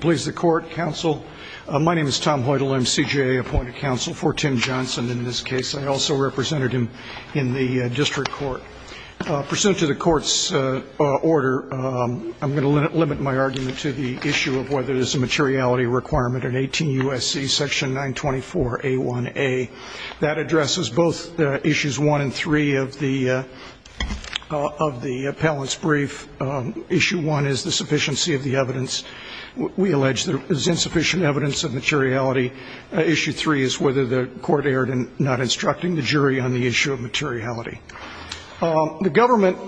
Please the court, counsel. My name is Tom Hoytel. I'm CJA appointed counsel for Tim Johnson in this case. I also represented him in the district court. Pursuant to the court's order, I'm going to limit my argument to the issue of whether there's a materiality requirement in 18 U.S.C. section 924a1a. That addresses both issues 1 and 3 of the appellant's brief. Issue 1 is the sufficiency of the evidence. We allege there is insufficient evidence of materiality. Issue 3 is whether the court erred in not instructing the jury on the issue of materiality. The government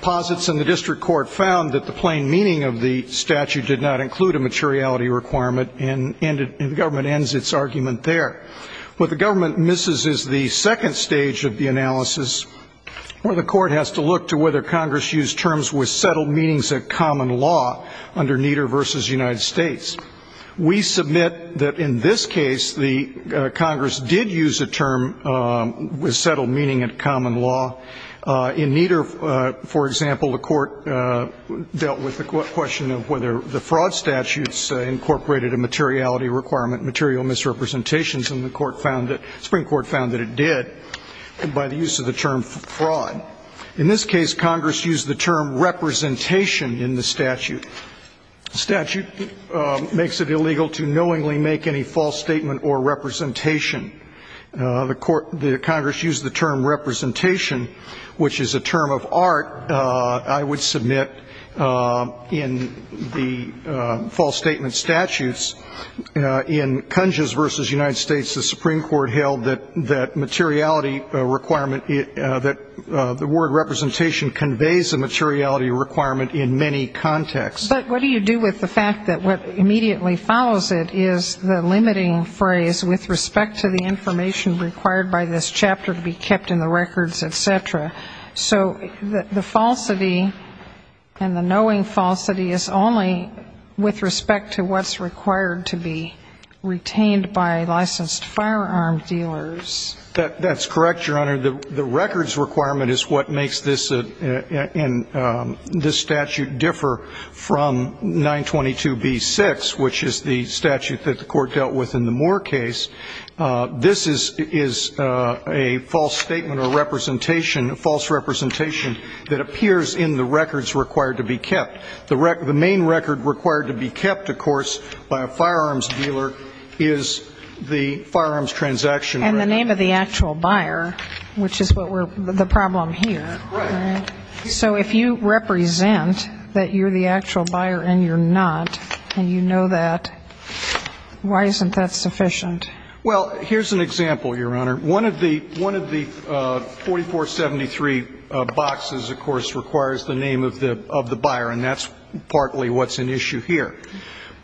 posits in the district court found that the plain meaning of the statute did not include a materiality requirement, and the government ends its argument there. What the government misses is the second stage of the analysis, where the court has to look to whether Congress used terms with settled meanings at common law under Nieder v. United States. We submit that in this case, the Congress did use a term with settled meaning at common law. In Nieder, for example, the court dealt with the question of whether the fraud statutes incorporated a materiality requirement, material misrepresentations, and the Supreme Court found that it did by the use of the term fraud. In this case, Congress used the term representation in the statute. The statute makes it illegal to knowingly make any false statement or representation. The Congress used the term representation, which is a term of art, I would submit, in the false statement statutes. In Kunzges v. United States, the Supreme Court held that materiality requirement, that the word representation conveys a materiality requirement in many contexts. But what do you do with the fact that what immediately follows it is the limiting phrase with respect to the information required by this chapter to be kept in the records, et cetera? So the falsity and the knowing falsity is only with respect to what's required to be retained by licensed firearm dealers. That's correct, Your Honor. The records requirement is what makes this statute differ from 922b-6, which is the statute that the court dealt with in the Moore case. This is a false statement or representation, a false representation that appears in the records required to be kept. The main record required to be kept, of course, by a firearms dealer is the firearms transaction record. And the name of the actual buyer, which is the problem here. Right. So if you represent that you're the actual buyer and you're not, and you know that, why isn't that sufficient? Well, here's an example, Your Honor. One of the 4473 boxes, of course, requires the name of the buyer, and that's partly what's an issue here.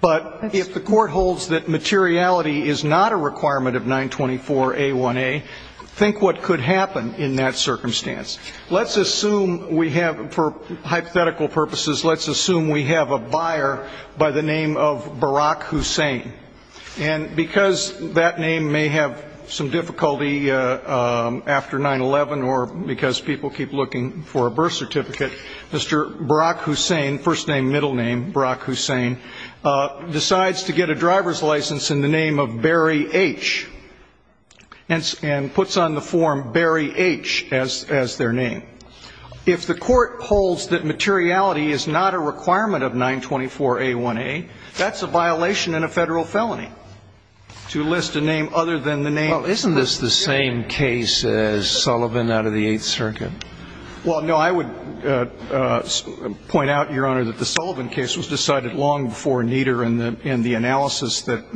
But if the court holds that materiality is not a requirement of 924a-1a, think what could happen in that circumstance. Let's assume we have, for hypothetical purposes, let's assume we have a buyer by the name of Barack Hussein. And because that name may have some difficulty after 9-11 or because people keep looking for a birth certificate, Mr. Barack Hussein, first name, middle name, Barack Hussein, decides to get a driver's license in the name of Barry H. And puts on the form Barry H. as their name. If the court holds that materiality is not a requirement of 924a-1a, that's a violation and a Federal felony to list a name other than the name. Well, isn't this the same case as Sullivan out of the Eighth Circuit? Well, no. I would point out, Your Honor, that the Sullivan case was decided long before Nieder and the analysis that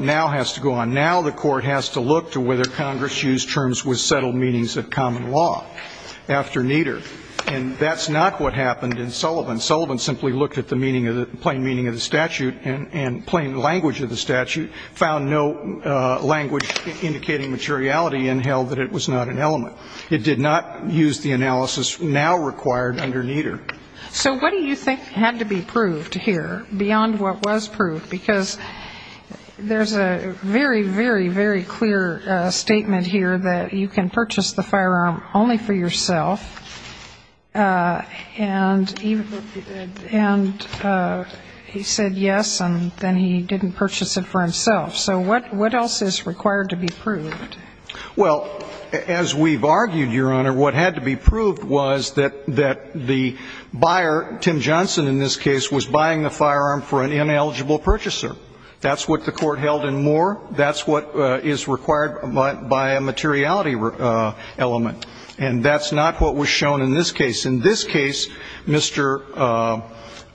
now has to go on. Now the court has to look to whether Congress used terms with settled meanings of common law after Nieder. And that's not what happened in Sullivan. Sullivan simply looked at the plain meaning of the statute and plain language of the statute, found no language indicating materiality, and held that it was not an element. It did not use the analysis now required under Nieder. So what do you think had to be proved here beyond what was proved? Because there's a very, very, very clear statement here that you can purchase the firearm only for yourself. And he said yes, and then he didn't purchase it for himself. So what else is required to be proved? Well, as we've argued, Your Honor, what had to be proved was that the buyer, Tim Johnson in this case, was buying the firearm for an ineligible purchaser. That's what the court held in Moore. That's what is required by a materiality element. And that's not what was shown in this case. In this case, Mr.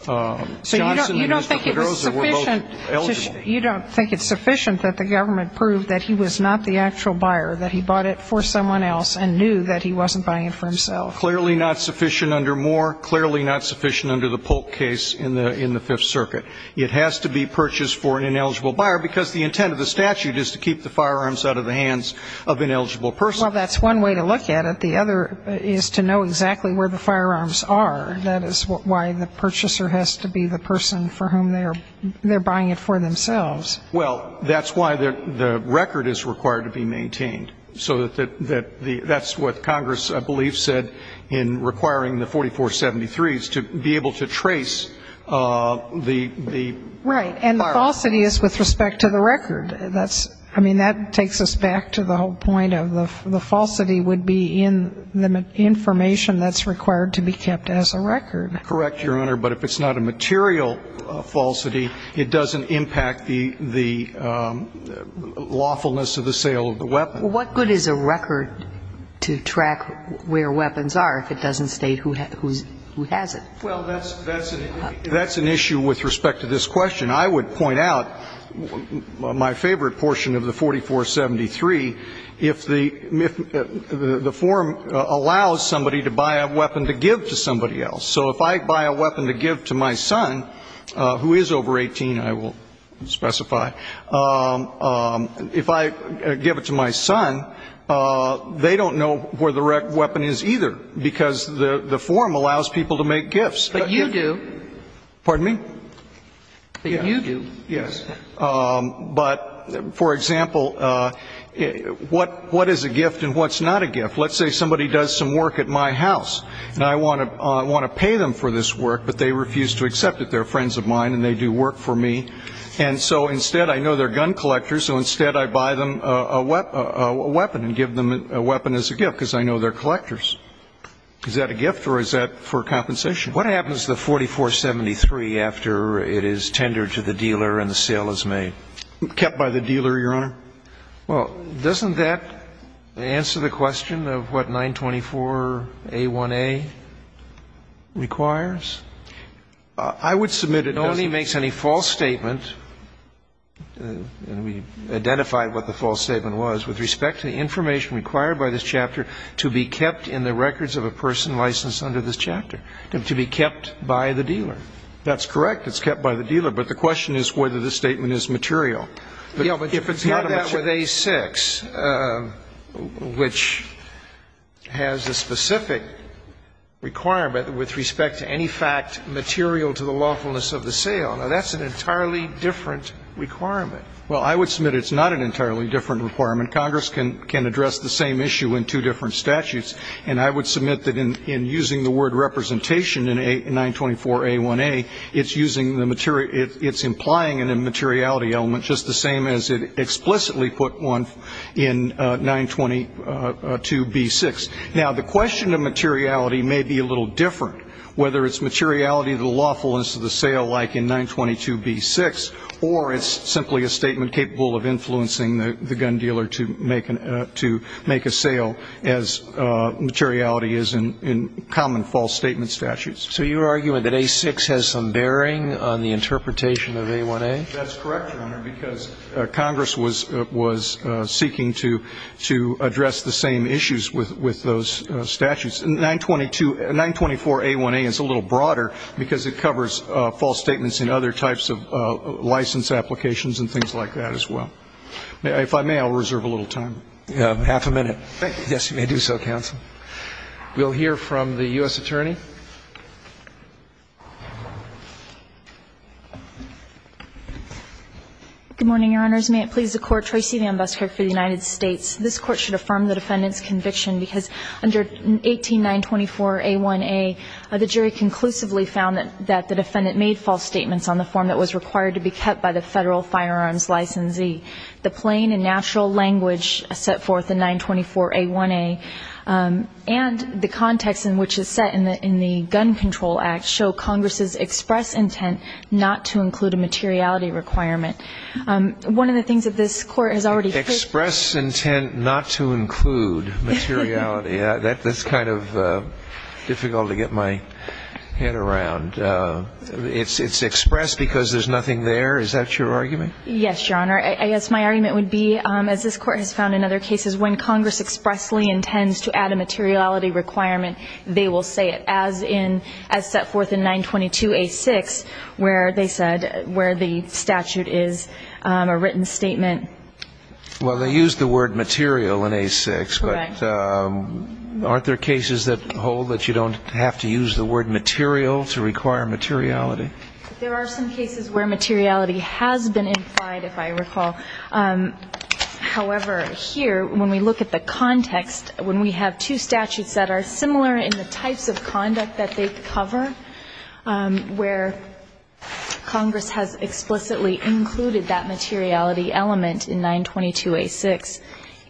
Johnson and Mr. Pedroza were both eligible. You don't think it's sufficient that the government proved that he was not the actual buyer, that he bought it for someone else and knew that he wasn't buying it for himself? Clearly not sufficient under Moore. Clearly not sufficient under the Polk case in the Fifth Circuit. It has to be purchased for an ineligible buyer because the intent of the statute is to keep the firearms out of the hands of ineligible persons. Well, that's one way to look at it. The other is to know exactly where the firearms are. That is why the purchaser has to be the person for whom they're buying it for themselves. Well, that's why the record is required to be maintained. So that's what Congress, I believe, said in requiring the 4473s to be able to trace the firearms. Right, and the falsity is with respect to the record. That takes us back to the whole point of the falsity would be in the information that's required to be kept as a record. Correct, Your Honor, but if it's not a material falsity, it doesn't impact the lawfulness of the sale of the weapon. What good is a record to track where weapons are if it doesn't state who has it? Well, that's an issue with respect to this question. I would point out my favorite portion of the 4473, if the form allows somebody to buy a weapon to give to somebody else. So if I buy a weapon to give to my son, who is over 18, I will specify, if I give it to my son, they don't know where the weapon is either because the form allows people to make gifts. But you do. Pardon me? But you do. Yes. But, for example, what is a gift and what's not a gift? Let's say somebody does some work at my house, and I want to pay them for this work, but they refuse to accept it. They're friends of mine and they do work for me. And so instead I know they're gun collectors, so instead I buy them a weapon and give them a weapon as a gift because I know they're collectors. Is that a gift or is that for compensation? What happens to the 4473 after it is tendered to the dealer and the sale is made? Kept by the dealer, Your Honor. Well, doesn't that answer the question of what 924a1a requires? I would submit it doesn't. Nobody makes any false statement, and we identified what the false statement was, with respect to information required by this chapter to be kept in the records of a person licensed under this chapter, to be kept by the dealer. That's correct. It's kept by the dealer. But the question is whether the statement is material. But if it's not a material statement. Yes, but it's not that with A6, which has a specific requirement with respect to any fact material to the lawfulness of the sale. Now, that's an entirely different requirement. Well, I would submit it's not an entirely different requirement. Congress can address the same issue in two different statutes. And I would submit that in using the word representation in 924a1a, it's using the material ‑‑ it's implying an immateriality element, just the same as it explicitly put one in 922b6. Now, the question of materiality may be a little different, whether it's materiality of the lawfulness of the sale, like in 922b6, or it's simply a statement capable of influencing the gun dealer to make a sale as materiality is in common false statement statutes. So you're arguing that A6 has some bearing on the interpretation of A1a? That's correct, Your Honor, because Congress was seeking to address the same issues with those statutes. 924a1a is a little broader because it covers false statements in other types of license applications and things like that as well. If I may, I'll reserve a little time. Half a minute. Thank you. Yes, you may do so, counsel. We'll hear from the U.S. attorney. Good morning, Your Honors. May it please the Court, Tracey Van Buskirk for the United States. This Court should affirm the defendant's conviction because under 18924a1a, the jury conclusively found that the defendant made false statements on the form that was required to be kept by the Federal Firearms Licensee. The plain and natural language set forth in 924a1a and the context in which it's set in the Gun Control Act show Congress's express intent not to include a materiality requirement. One of the things that this Court has already put forth is that Congress expressed intent not to include materiality. That's kind of difficult to get my head around. It's expressed because there's nothing there? Is that your argument? Yes, Your Honor. I guess my argument would be, as this Court has found in other cases, when Congress expressly intends to add a materiality requirement, they will say it, as set forth in 922a6, where they said where the statute is a written statement. Well, they use the word material in a6, but aren't there cases that hold that you don't have to use the word material to require materiality? There are some cases where materiality has been implied, if I recall. However, here, when we look at the context, when we have two statutes that are similar in the types of conduct that they cover, where Congress has explicitly included that materiality element in 922a6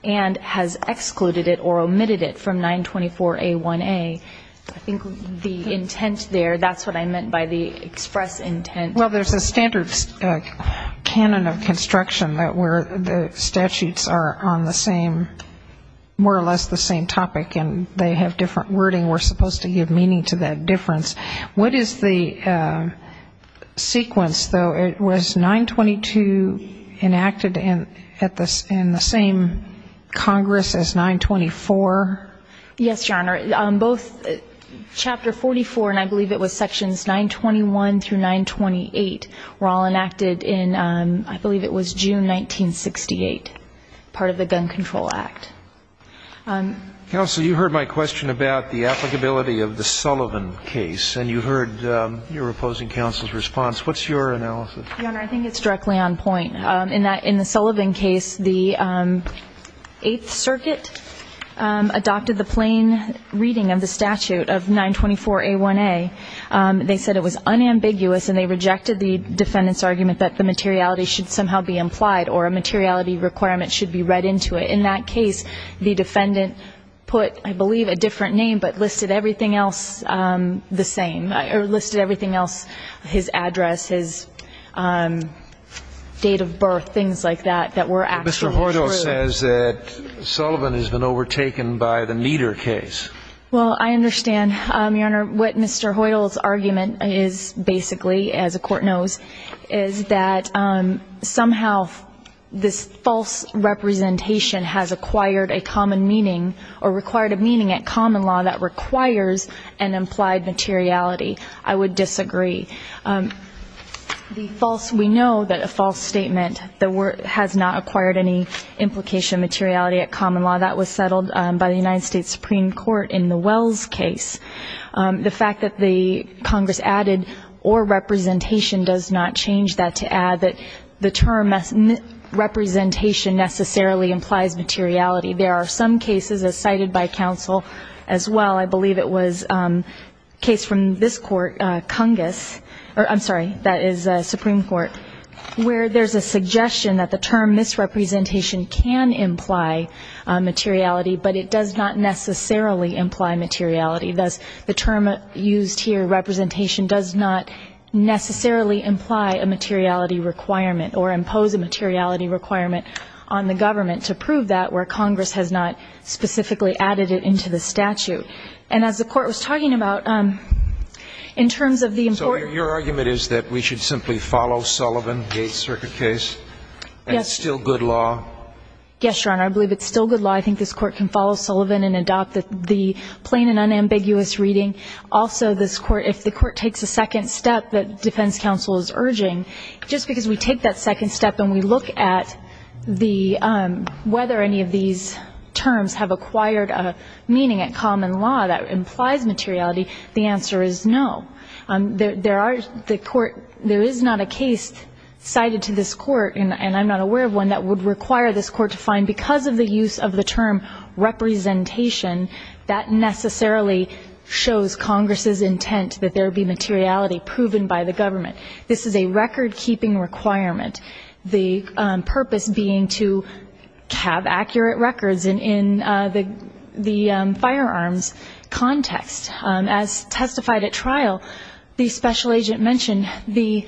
and has excluded it or omitted it from 924a1a, I think the intent there, that's what I meant by the express intent. Well, there's a standard canon of construction where the statutes are on the same, more or less the same topic, and they have different wording. We're supposed to give meaning to that difference. What is the sequence, though? Was 922 enacted in the same Congress as 924? Yes, Your Honor. Both Chapter 44, and I believe it was Sections 921 through 928, were all enacted in, I believe it was June 1968, part of the Gun Control Act. Counsel, you heard my question about the applicability of the Sullivan case, and you heard your opposing counsel's response. What's your analysis? Your Honor, I think it's directly on point. In the Sullivan case, the Eighth Circuit adopted the plain reading of the statute of 924a1a. They said it was unambiguous, and they rejected the defendant's argument that the materiality should somehow be implied or a materiality requirement should be read into it. In that case, the defendant put, I believe, a different name, but listed everything else the same, or listed everything else, his address, his date of birth, things like that, that were actually true. Mr. Hoyle says that Sullivan has been overtaken by the Nieder case. Well, I understand, Your Honor. What Mr. Hoyle's argument is, basically, as the Court knows, is that somehow this false representation has acquired a common meaning or required a meaning at common law that requires an implied materiality. I would disagree. We know that a false statement has not acquired any implication of materiality at common law. That was settled by the United States Supreme Court in the Wells case. The fact that the Congress added or representation does not change that to add that the term representation necessarily implies materiality. There are some cases, as cited by counsel as well, I believe it was a case from this court, Cungus. I'm sorry, that is Supreme Court, where there's a suggestion that the term misrepresentation can imply materiality, but it does not necessarily imply materiality. Thus, the term used here, representation, does not necessarily imply a materiality requirement or impose a materiality requirement on the government to prove that, where Congress has not specifically added it into the statute. And as the Court was talking about, in terms of the important ---- So your argument is that we should simply follow Sullivan, the Eighth Circuit case? Yes. That's still good law? Yes, Your Honor. I believe it's still good law. I think this Court can follow Sullivan and adopt the plain and unambiguous reading. Also, this Court, if the Court takes a second step that defense counsel is urging, just because we take that second step and we look at whether any of these terms have acquired a meaning at common law that implies materiality, the answer is no. There is not a case cited to this Court, and I'm not aware of one, that would require this Court to find, because of the use of the term representation, that necessarily shows Congress's intent that there be materiality proven by the government. This is a record-keeping requirement, the purpose being to have accurate records in the firearms context. As testified at trial, the special agent mentioned, the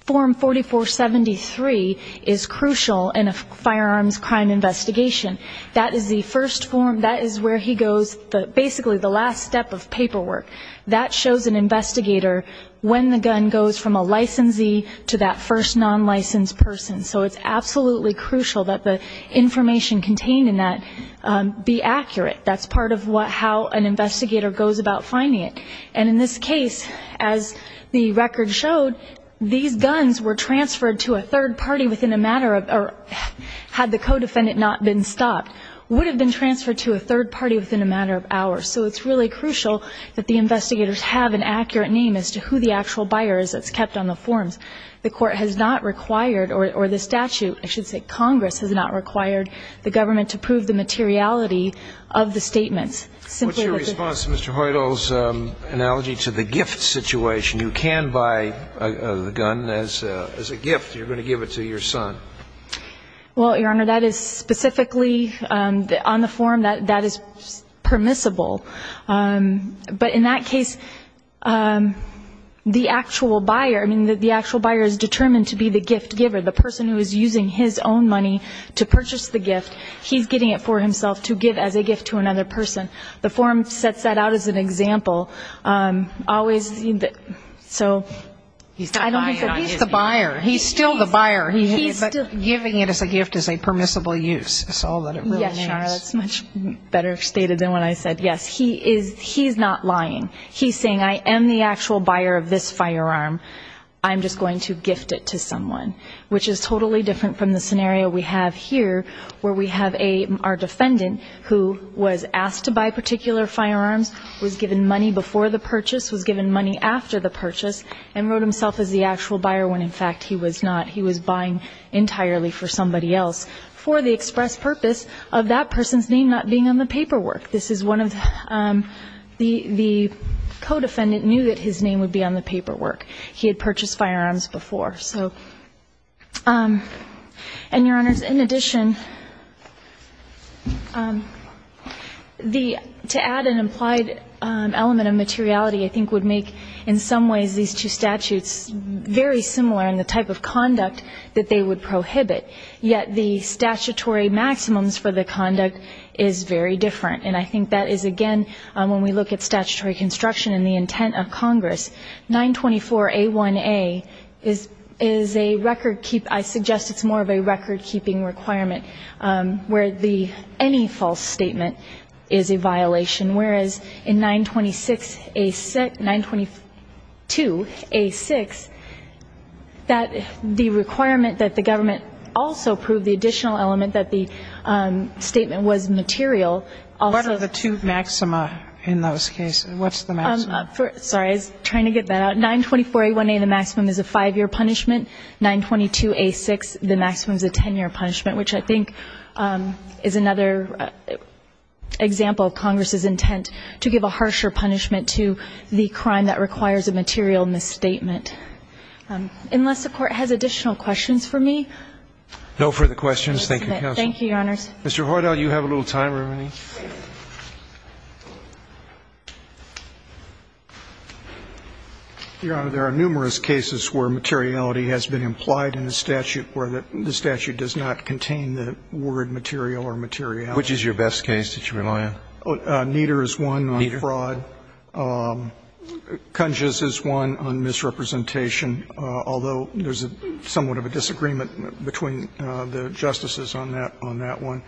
form 4473 is crucial in a firearms crime investigation. That is the first form. That is where he goes, basically the last step of paperwork. That shows an investigator when the gun goes from a licensee to that first non-licensed person. So it's absolutely crucial that the information contained in that be accurate. That's part of how an investigator goes about finding it. And in this case, as the record showed, these guns were transferred to a third party within a matter of, or had the co-defendant not been stopped, would have been transferred to a third party within a matter of hours. So it's really crucial that the investigators have an accurate name as to who the actual buyer is that's kept on the forms. The Court has not required, or the statute, I should say, Congress has not required the government to prove the materiality of the statements. What's your response to Mr. Hoyle's analogy to the gift situation? You can buy the gun as a gift. You're going to give it to your son. Well, Your Honor, that is specifically on the form, that is permissible. But in that case, the actual buyer, I mean, the actual buyer is determined to be the gift giver. The person who is using his own money to purchase the gift, he's getting it for himself to give as a gift to another person. The form sets that out as an example. So I don't think that he's the buyer. He's the buyer. He's still the buyer. But giving it as a gift is a permissible use. Yes, Your Honor, that's much better stated than what I said. Yes, he's not lying. He's saying, I am the actual buyer of this firearm. I'm just going to gift it to someone, which is totally different from the scenario we have here where we have our defendant who was asked to buy particular firearms, was given money before the purchase, was given money after the purchase, and wrote himself as the actual buyer when, in fact, he was not. He was buying entirely for somebody else for the express purpose of that person's name not being on the paperwork. This is one of the co-defendant knew that his name would be on the paperwork. He had purchased firearms before. And, Your Honors, in addition, to add an implied element of materiality I think would make, in some ways, these two statutes very similar in the type of conduct that they would prohibit. Yet the statutory maximums for the conduct is very different. And I think that is, again, when we look at statutory construction and the intent of Congress, 924A1A is a record keep. I suggest it's more of a record keeping requirement where the any false statement is a violation. Whereas in 926A6, 922A6, that the requirement that the government also prove the additional element that the statement was material. What are the two maxima in those cases? What's the maxima? Sorry. I was trying to get that out. 924A1A, the maximum is a five-year punishment. 922A6, the maximum is a ten-year punishment, which I think is another example of Congress's intent to give a harsher punishment to the crime that requires a material misstatement. Unless the Court has additional questions for me. No further questions. Thank you, Counsel. Thank you, Your Honors. Mr. Hoytow, you have a little time remaining. Your Honor, there are numerous cases where materiality has been implied in the statute where the statute does not contain the word material or materiality. Which is your best case that you rely on? Nieder is one on fraud. Nieder. Kunzges is one on misrepresentation, although there is somewhat of a disagreement between the justices on that one.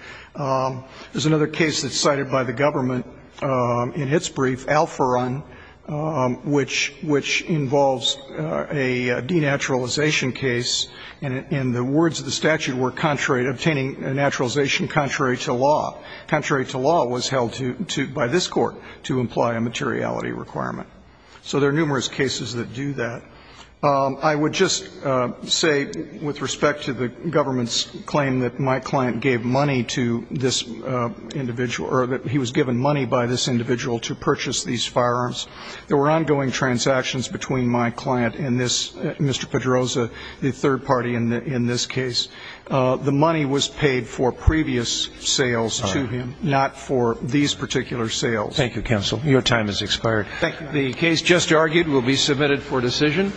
There's another case that's cited by the government in its brief, Al Foran, which involves a denaturalization case, and the words of the statute were contrary, obtaining a naturalization contrary to law. Contrary to law was held by this Court to imply a materiality requirement. So there are numerous cases that do that. I would just say with respect to the government's claim that my client gave money to this individual or that he was given money by this individual to purchase these firearms, there were ongoing transactions between my client and this Mr. Pedroza, the third party in this case. The money was paid for previous sales to him, not for these particular sales. Thank you, Counsel. Your time has expired. The case just argued will be submitted for decision.